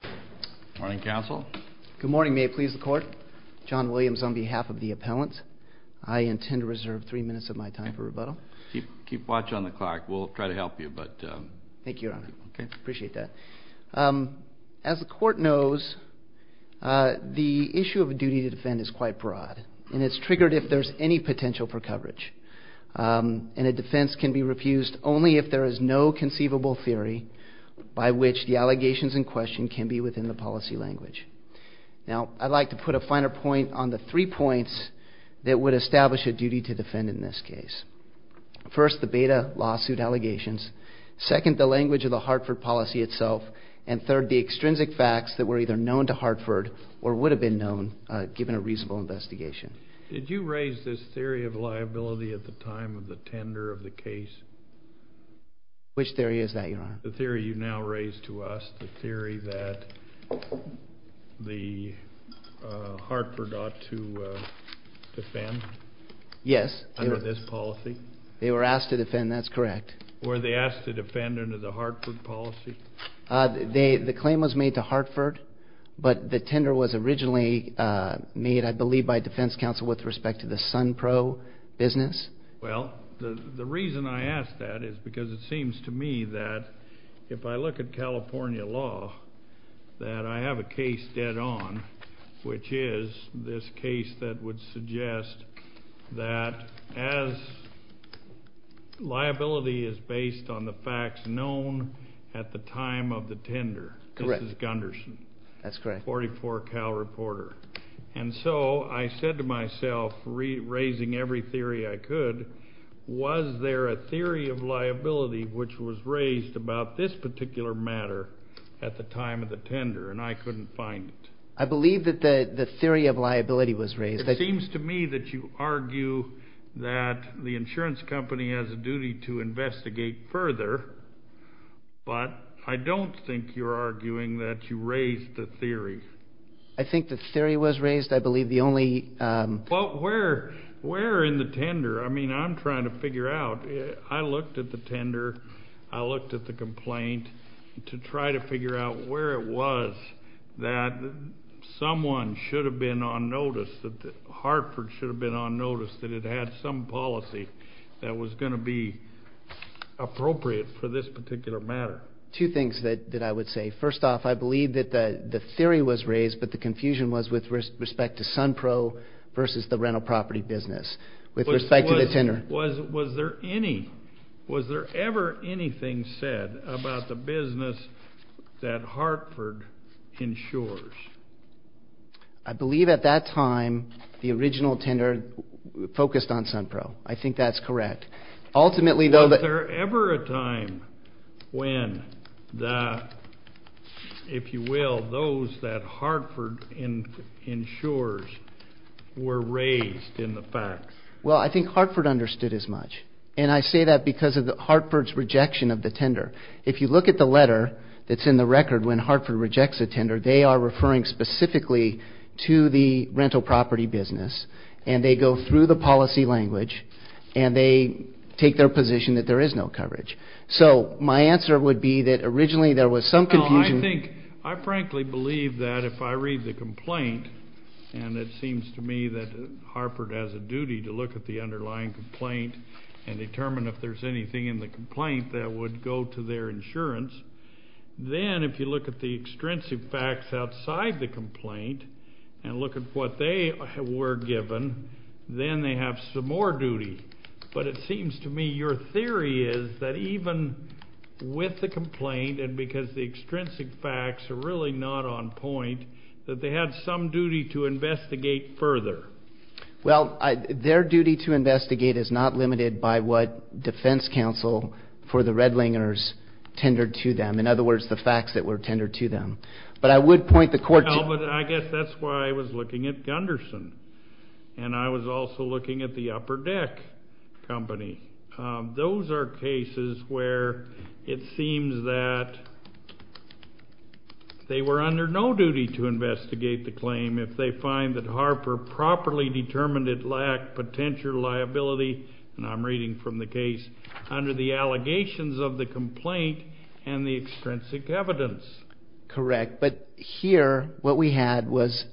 Good morning, counsel. Good morning. May it please the Court. John Williams on behalf of the appellant. I intend to reserve three minutes of my time for rebuttal. Keep watch on the clock. We'll try to help you. Thank you, Your Honor. I appreciate that. As the Court knows, the issue of a duty to defend is quite broad, and it's triggered if there's any potential for coverage. And a defense can be refused only if there is no conceivable theory by which the allegations in question can be within the policy language. Now, I'd like to put a finer point on the three points that would establish a duty to defend in this case. First, the beta lawsuit allegations. Second, the language of the Hartford policy itself. And third, the extrinsic facts that were either known to Hartford or would have been known given a reasonable investigation. Did you raise this theory of liability at the time of the tender of the case? Which theory is that, Your Honor? The theory you now raise to us, the theory that Hartford ought to defend under this policy? Yes. They were asked to defend. That's correct. Were they asked to defend under the Hartford policy? The claim was made to Hartford, but the tender was originally made, I believe, by defense counsel with respect to the Sunpro business. Well, the reason I ask that is because it seems to me that if I look at California law, that I have a case dead on, which is this case that would suggest that as liability is based on the facts known at the time of the tender. Correct. This is Gunderson. That's correct. 44 Cal Reporter. And so I said to myself, raising every theory I could, was there a theory of liability which was raised about this particular matter at the time of the tender, and I couldn't find it. I believe that the theory of liability was raised. It seems to me that you argue that the insurance company has a duty to investigate further, but I don't think you're arguing that you raised the theory. I think the theory was raised. I believe the only... Well, where in the tender? I mean, I'm trying to figure out. I looked at the tender. I looked at the complaint to try to figure out where it was that someone should have been on notice, that Hartford should have been on notice that it had some policy that was going to be appropriate for this particular matter. Two things that I would say. First off, I believe that the theory was raised, but the confusion was with respect to Sunpro versus the rental property business, with respect to the tender. Was there any... Was there ever anything said about the business that Hartford insures? I believe at that time, the original tender focused on Sunpro. I think that's correct. Ultimately, though... Was there ever a time when the, if you will, those that Hartford insures were raised in the facts? Well, I think Hartford understood as much, and I say that because of Hartford's rejection of the tender. If you look at the letter that's in the record when Hartford rejects a tender, they are referring specifically to the rental property business, and they go through the policy language, and they take their position that there is no coverage. So my answer would be that originally there was some confusion... No, I think... I frankly believe that if I read the complaint, and it seems to me that Hartford has a duty to look at the underlying complaint and determine if there's anything in the complaint that would go to their insurance, then if you look at the extrinsic facts outside the complaint and look at what they were given, then they have some more duty. But it seems to me your theory is that even with the complaint, and because the extrinsic facts are really not on point, that they had some duty to investigate further. Well, their duty to investigate is not limited by what defense counsel for the Redlingers tendered to them. In other words, the facts that were tendered to them. But I would point the court to... Well, but I guess that's why I was looking at Gunderson. And I was also looking at the Upper Deck Company. Those are cases where it seems that they were under no duty to investigate the claim if they find that Harper properly determined it lacked potential liability, and I'm reading from the case, under the allegations of the complaint and the extrinsic evidence. Correct. But here, what we had was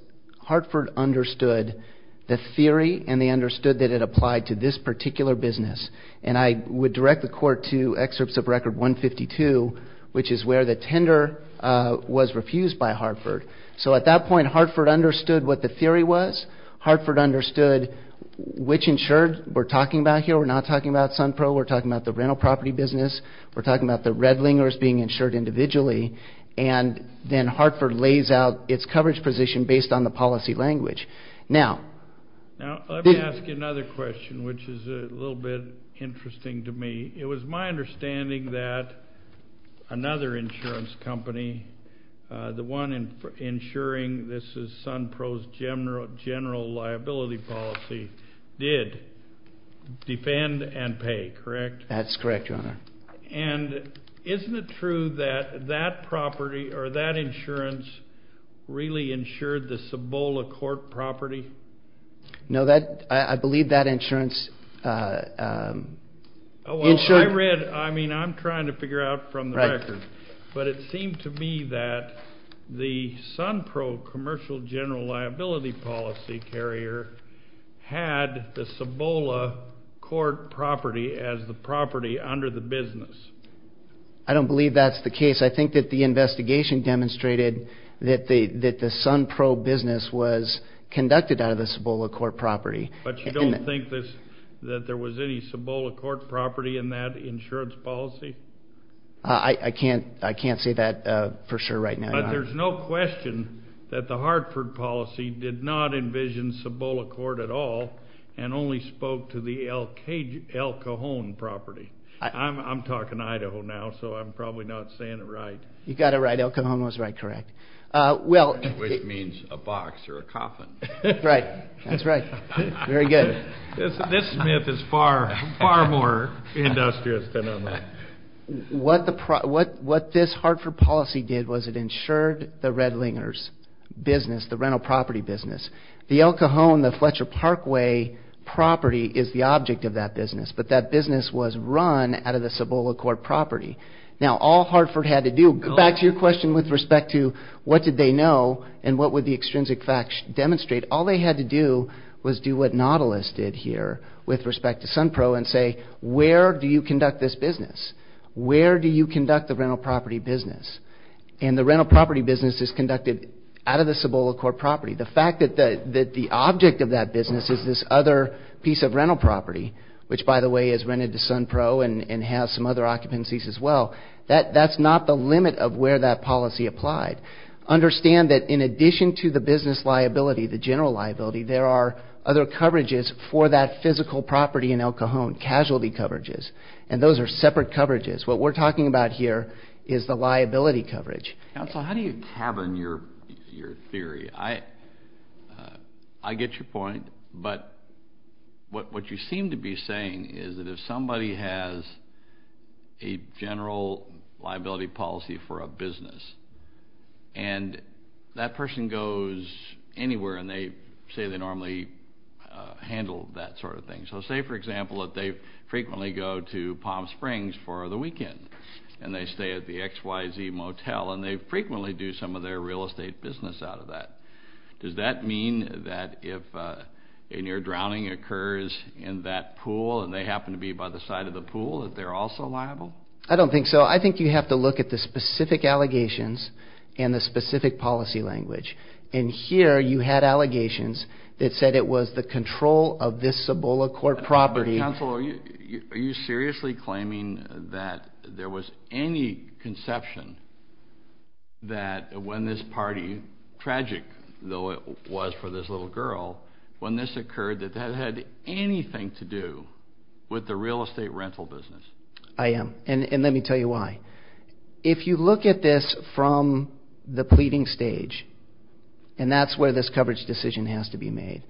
Hartford understood the theory and they understood that it applied to this particular business. And I would direct the court to excerpts of Record 152, which is where the tender was refused by Hartford. So at that point, Hartford understood what the theory was, Hartford understood which insured we're talking about here. We're not talking about Sunpro, we're talking about the rental property business, we're talking about the Redlingers being insured individually. And then Hartford lays out its coverage position based on the policy language. Now... Now, let me ask you another question, which is a little bit interesting to me. It was my understanding that another insurance company, the one insuring this is Sunpro's general liability policy, did defend and pay, correct? That's correct, Your Honor. And isn't it true that that property or that insurance really insured the Cibola Court property? No, that... I believe that insurance insured... Well, I read... I mean, I'm trying to figure out from the record, but it seemed to me that the Sunpro commercial general liability policy carrier had the Cibola Court property as the property under the business. I don't believe that's the case. I think that the investigation demonstrated that the Sunpro business was conducted out of the Cibola Court property. But you don't think that there was any Cibola Court property in that insurance policy? I can't... I can't say that for sure right now, Your Honor. But there's no question that the Hartford policy did not envision Cibola Court at all and only spoke to the El Cajon property. I'm talking Idaho now, so I'm probably not saying it right. You got it right. El Cajon was right, correct. Well... Which means a box or a coffin. Right. That's right. Very good. This myth is far, far more industrious than... What this Hartford policy did was it insured the Redlingers business, the rental property business. The El Cajon, the Fletcher Parkway property is the object of that business, but that business was run out of the Cibola Court property. Now, all Hartford had to do, back to your question with respect to what did they know and what would the extrinsic facts demonstrate, all they had to do was do what Nautilus did here with respect to Sunpro and say, where do you conduct this business? Where do you conduct the rental property business? And the rental property business is conducted out of the Cibola Court property. The fact that the object of that business is this other piece of rental property, which by the way is rented to Sunpro and has some other occupancies as well, that's not the limit of where that policy applied. Understand that in addition to the business liability, the general liability, there are other coverages for that physical property in El Cajon, casualty coverages, and those are separate coverages. What we're talking about here is the liability coverage. Counsel, how do you tavern your theory? I get your point, but what you seem to be saying is that if somebody has a general liability policy for a business and that person goes anywhere and they say they normally handle that sort of thing. So say, for example, that they frequently go to Palm Springs for the weekend and they stay at the XYZ Motel and they frequently do some of their real estate business out of that. Does that mean that if a near-drowning occurs in that pool and they happen to be by the side of the pool, that they're also liable? I don't think so. I think you have to look at the specific allegations and the specific policy language. And here you had allegations that said it was the control of this Cibola Court property. Counsel, are you seriously claiming that there was any conception that when this party, tragic though it was for this little girl, when this occurred, that that had anything to do with the real estate rental business? I am. And let me tell you why. If you look at this from the pleading stage, and that's where this coverage decision has to be made,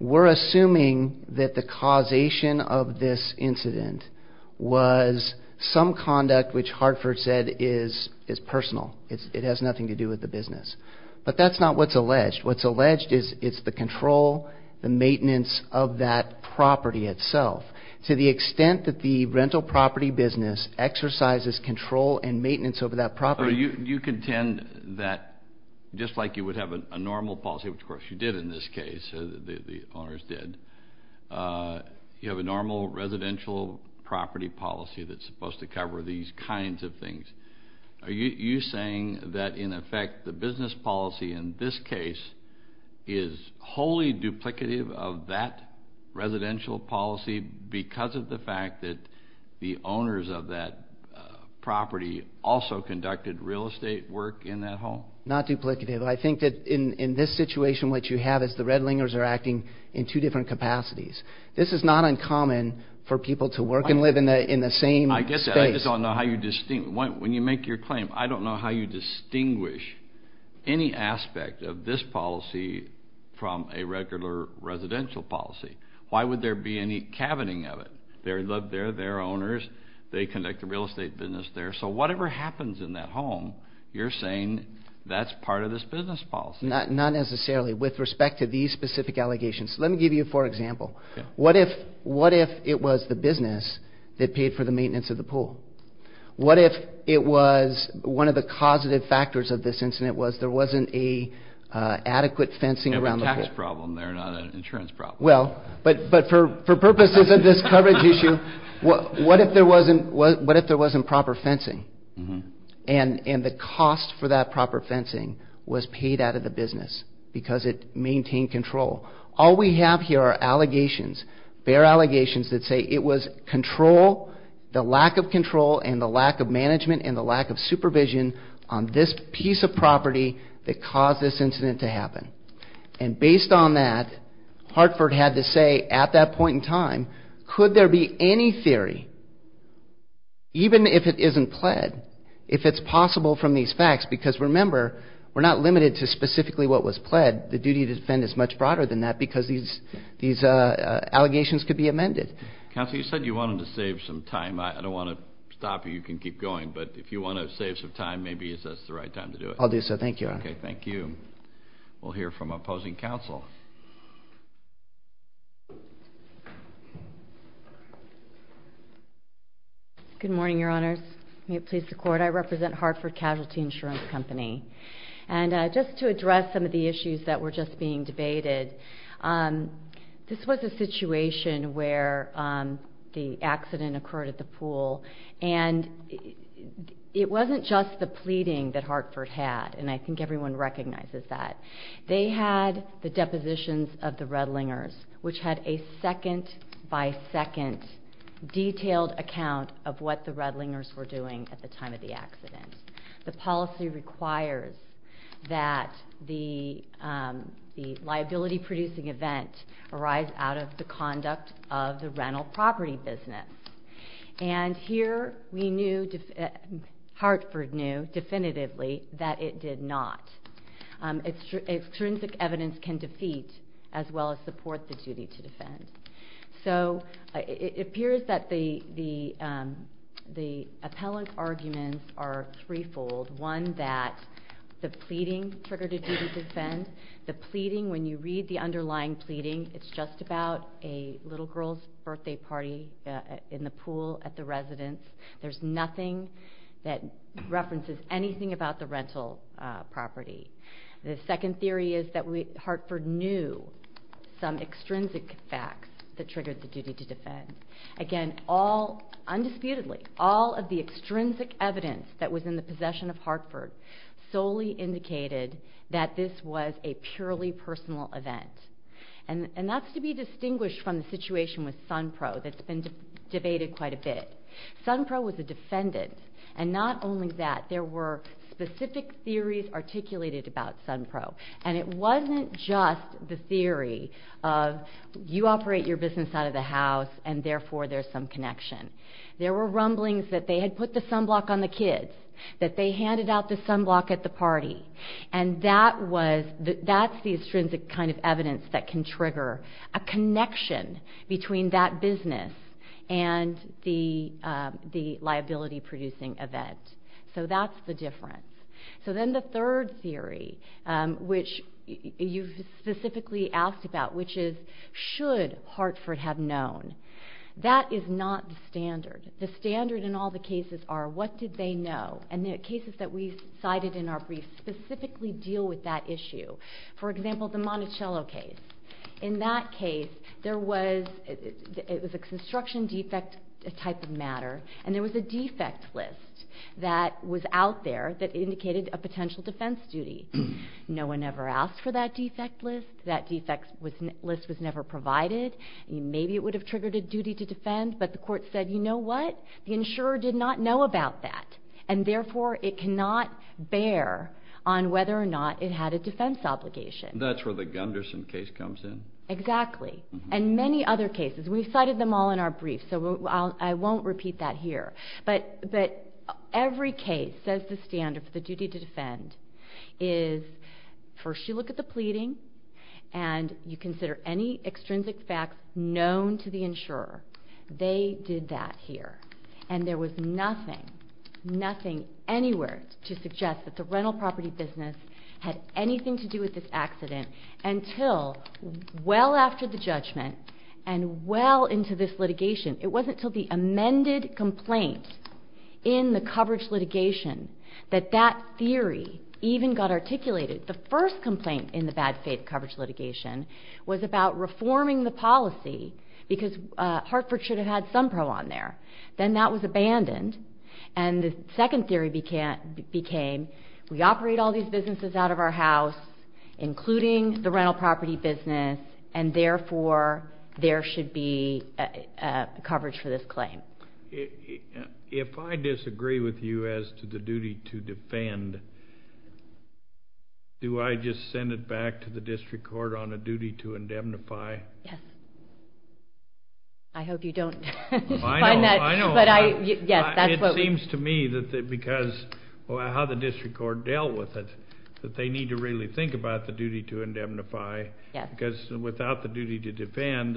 we're assuming that the causation of this incident was some conduct which Hartford said is personal. It has nothing to do with the business. But that's not what's alleged. What's alleged is it's the control, the maintenance of that property itself. To the extent that the rental property business exercises control and maintenance over that property... So you contend that just like you would have a normal policy, which of course you did in this case, the owners did, you have a normal residential property policy that's supposed to cover these kinds of things. Are you saying that in effect the business policy in this case is wholly duplicative of that residential policy because of the fact that the owners of that property also conducted real estate work in that home? Not duplicative. I think that in this situation what you have is the Red Lingers are acting in two different capacities. This is not uncommon for people to work and live in the same space. I get that. I just don't know how you distinguish. When you make your claim, I don't know how you distinguish any aspect of this policy from a regular residential policy. Why would there be any cabining of it? They're there, they're owners, they conduct a real estate business there, so whatever happens in that home, you're saying that's part of this business policy. Not necessarily. With respect to these specific allegations, let me give you four examples. What if it was the business that paid for the maintenance of the pool? What if it was one of the causative factors of this incident was there wasn't an adequate fencing around the pool? It would be a tax problem there, not an insurance problem. But for purposes of this coverage issue, what if there wasn't proper fencing and the cost for that proper fencing was paid out of the business because it maintained control? All we have here are allegations, bare allegations that say it was control, the lack of control and the lack of management and the lack of supervision on this piece of property that caused this incident to happen. And based on that, Hartford had to say at that point in time, could there be any theory, even if it isn't pled, if it's possible from these facts, because remember, we're not limited to specifically what was pled, the duty to defend is much broader than that because these allegations could be amended. Counsel, you said you wanted to save some time. I don't want to stop you, you can keep going, but if you want to save some time, maybe is this the right time to do it? I'll do so, thank you. Okay, thank you. We'll hear from opposing counsel. Good morning, your honors. May it please the court, I represent Hartford Casualty Insurance Company. And just to address some of the issues that were just being debated, this was a situation where the accident occurred at the pool and it wasn't just the pleading that Hartford had, and I think everyone recognizes that. They had the depositions of the Redlingers, which had a second by second detailed account of what the Redlingers were doing at the time of the accident. The policy requires that the liability producing event arise out of the conduct of the rental property business. And here Hartford knew definitively that it did not. Extrinsic evidence can defeat as well as support the duty to defend. So it appears that the appellant arguments are threefold. One, that the pleading triggered a duty to defend. The pleading, when you read the underlying pleading, it's just about a little girl's in the pool at the residence. There's nothing that references anything about the rental property. The second theory is that Hartford knew some extrinsic facts that triggered the duty to defend. Again, all, undisputedly, all of the extrinsic evidence that was in the possession of Hartford solely indicated that this was a purely personal event. And that's to be distinguished from the situation with Sunpro that's been debated quite a bit. Sunpro was a defendant. And not only that, there were specific theories articulated about Sunpro. And it wasn't just the theory of you operate your business out of the house, and therefore there's some connection. There were rumblings that they had put the sunblock on the kids, that they handed out the sunblock at the party. And that's the extrinsic kind of evidence that can trigger a connection between that business and the liability-producing event. So that's the difference. So then the third theory, which you specifically asked about, which is should Hartford have known. That is not the standard. The standard in all the cases are what did they know. And the cases that we cited in our brief specifically deal with that issue. For example, the Monticello case. In that case, it was a construction defect type of matter, and there was a defect list that was out there that indicated a potential defense duty. No one ever asked for that defect list. That defect list was never provided. Maybe it would have triggered a duty to defend, but the court said, you know what, the insurer did not know about that, and therefore it cannot bear on whether or not it had a defense obligation. That's where the Gunderson case comes in. Exactly. And many other cases. We've cited them all in our brief, so I won't repeat that here. But every case says the standard for the duty to defend is first you look at the pleading and you consider any extrinsic facts known to the insurer. They did that here. And there was nothing, nothing anywhere to suggest that the rental property business had anything to do with this accident until well after the judgment and well into this litigation. It wasn't until the amended complaint in the coverage litigation that that theory even got articulated. The first complaint in the bad faith coverage litigation was about reforming the policy because Hartford should have had some pro on there. Then that was abandoned. And the second theory became we operate all these businesses out of our house, including the rental property business, and therefore there should be coverage for this claim. If I disagree with you as to the duty to defend, do I just send it back to the district court on a duty to indemnify? Yes. I hope you don't find that. It seems to me that because of how the district court dealt with it, that they need to really think about the duty to indemnify because without the duty to defend,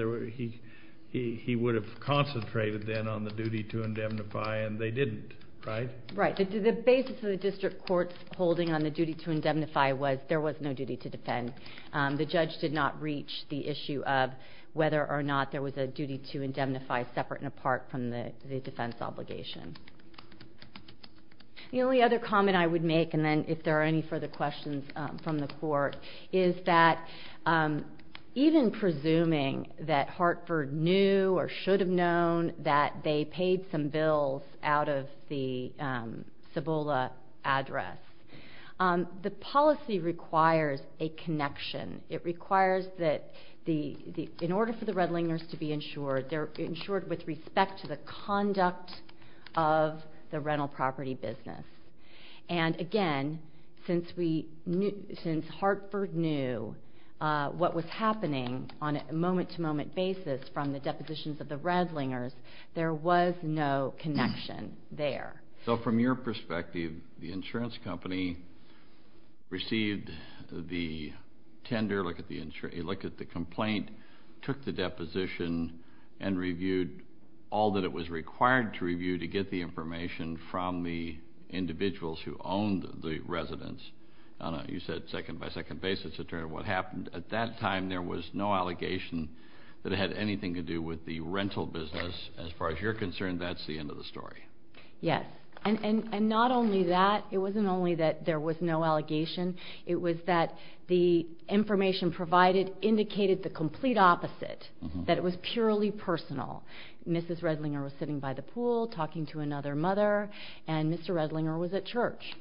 he would have concentrated then on the duty to indemnify, and they didn't, right? Right. The basis of the district court's holding on the duty to indemnify was there was no duty to defend. The judge did not reach the issue of whether or not there was a duty to indemnify separate and apart from the defense obligation. The only other comment I would make, and then if there are any further questions from the court, is that even presuming that Hartford knew or should have known that they paid some bills out of the Cibola address, the policy requires a connection. It requires that in order for the Redlingers to be insured, they're insured with respect to the conduct of the rental property business. And, again, since Hartford knew what was happening on a moment-to-moment basis from the depositions of the Redlingers, there was no connection there. So from your perspective, the insurance company received the tender, looked at the complaint, took the deposition, and reviewed all that it was required to review to get the information from the individuals who owned the residence on a, you said, second-by-second basis, to determine what happened. At that time there was no allegation that it had anything to do with the rental business. As far as you're concerned, that's the end of the story. Yes. And not only that, it wasn't only that there was no allegation, it was that the information provided indicated the complete opposite, that it was purely personal. Mrs. Redlinger was sitting by the pool talking to another mother, and Mr. Redlinger was at church.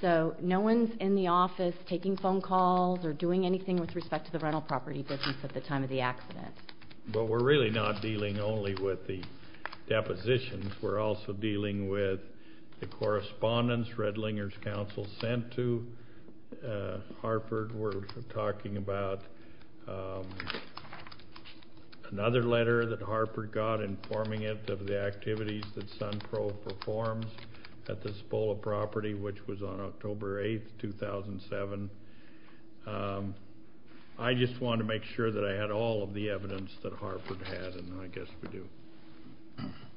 So no one's in the office taking phone calls or doing anything with respect to the rental property business at the time of the accident. But we're really not dealing only with the depositions. We're also dealing with the correspondence Redlinger's counsel sent to Harford. We're talking about another letter that Harford got informing it of the activities that Suncro performs at the Spola property, which was on October 8, 2007. I just wanted to make sure that I had all of the evidence that Harford had, and I guess we do.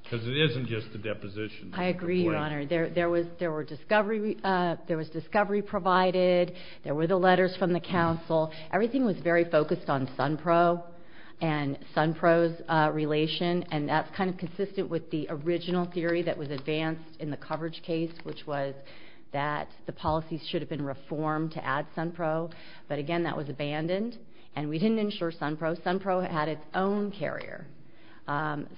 Because it isn't just the depositions. I agree, Your Honor. There was discovery provided. There were the letters from the counsel. Everything was very focused on Sunpro and Sunpro's relation, and that's kind of consistent with the original theory that was advanced in the coverage case, which was that the policies should have been reformed to add Sunpro. But, again, that was abandoned, and we didn't insure Sunpro. Sunpro had its own carrier,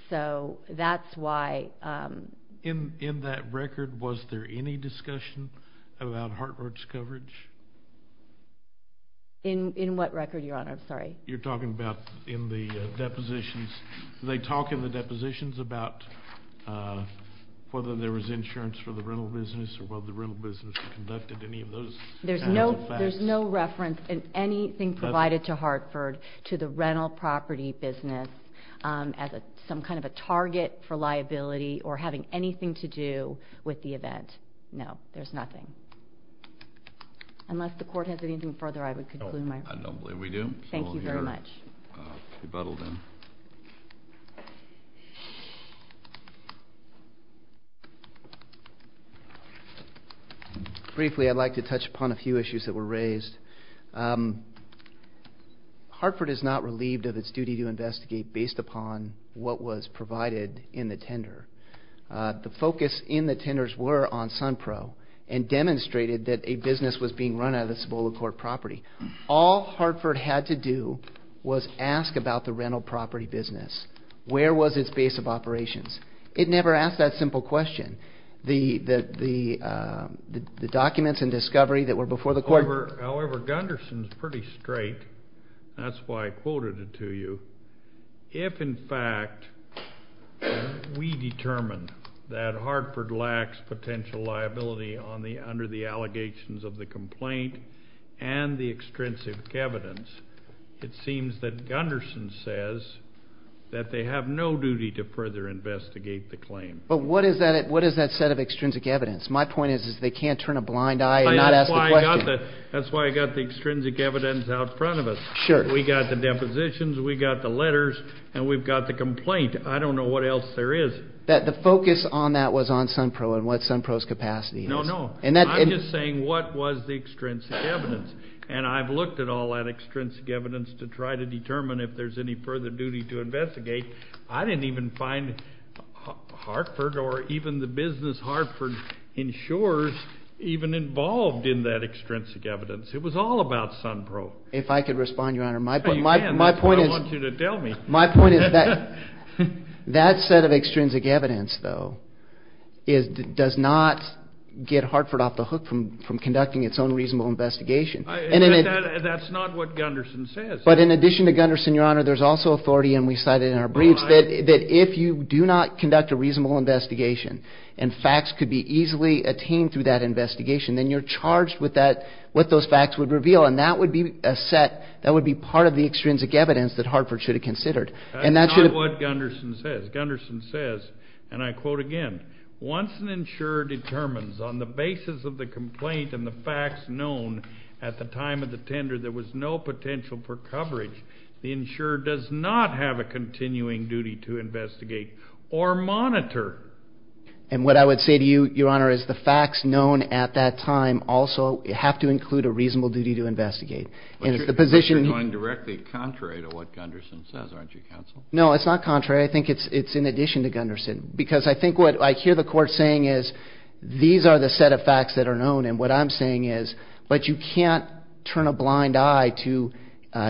so that's why. In that record, was there any discussion about Harford's coverage? In what record, Your Honor? I'm sorry. You're talking about in the depositions. Do they talk in the depositions about whether there was insurance for the rental business or whether the rental business conducted any of those kinds of facts? There's no reference in anything provided to Harford to the rental property business as some kind of a target for liability or having anything to do with the event. No, there's nothing. Unless the Court has anything further, I would conclude my report. I don't believe we do. Thank you very much. Rebuttal, then. Briefly, I'd like to touch upon a few issues that were raised. Harford is not relieved of its duty to investigate based upon what was provided in the tender. The focus in the tenders were on Sunpro and demonstrated that a business was being run out of the Cibola Court property. All Harford had to do was ask about the rental property business. Where was its base of operations? It never asked that simple question. The documents and discovery that were before the Court were However, Gunderson's pretty straight. That's why I quoted it to you. If, in fact, we determine that Harford lacks potential liability under the allegations of the complaint and the extrinsic evidence, it seems that Gunderson says that they have no duty to further investigate the claim. But what is that set of extrinsic evidence? My point is they can't turn a blind eye and not ask the question. That's why I got the extrinsic evidence out front of us. Sure. We got the depositions, we got the letters, and we've got the complaint. I don't know what else there is. The focus on that was on Sunpro and what Sunpro's capacity is. No, no. I'm just saying what was the extrinsic evidence? And I've looked at all that extrinsic evidence to try to determine if there's any further duty to investigate. I didn't even find Harford or even the business Harford insures even involved in that extrinsic evidence. It was all about Sunpro. If I could respond, Your Honor. You can. That's what I want you to tell me. My point is that set of extrinsic evidence, though, does not get Hartford off the hook from conducting its own reasonable investigation. That's not what Gunderson says. But in addition to Gunderson, Your Honor, there's also authority, and we cite it in our briefs, that if you do not conduct a reasonable investigation and facts could be easily attained through that investigation, then you're charged with what those facts would reveal. And that would be part of the extrinsic evidence that Hartford should have considered. That's not what Gunderson says. Gunderson says, and I quote again, Once an insurer determines on the basis of the complaint and the facts known at the time of the tender there was no potential for coverage, the insurer does not have a continuing duty to investigate or monitor. And what I would say to you, Your Honor, is the facts known at that time also have to include a reasonable duty to investigate. But you're going directly contrary to what Gunderson says, aren't you, Counsel? No, it's not contrary. I think it's in addition to Gunderson. Because I think what I hear the Court saying is these are the set of facts that are known, and what I'm saying is but you can't turn a blind eye to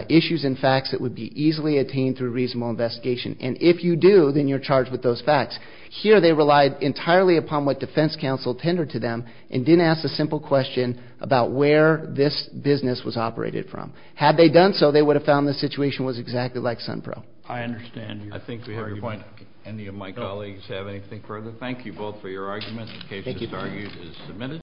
issues and facts that would be easily attained through reasonable investigation. And if you do, then you're charged with those facts. Here they relied entirely upon what defense counsel tendered to them and didn't ask a simple question about where this business was operated from. Had they done so, they would have found the situation was exactly like Sunpro. I understand your argument. I think we have your point. Any of my colleagues have anything further? Thank you both for your arguments. The case that's argued is submitted.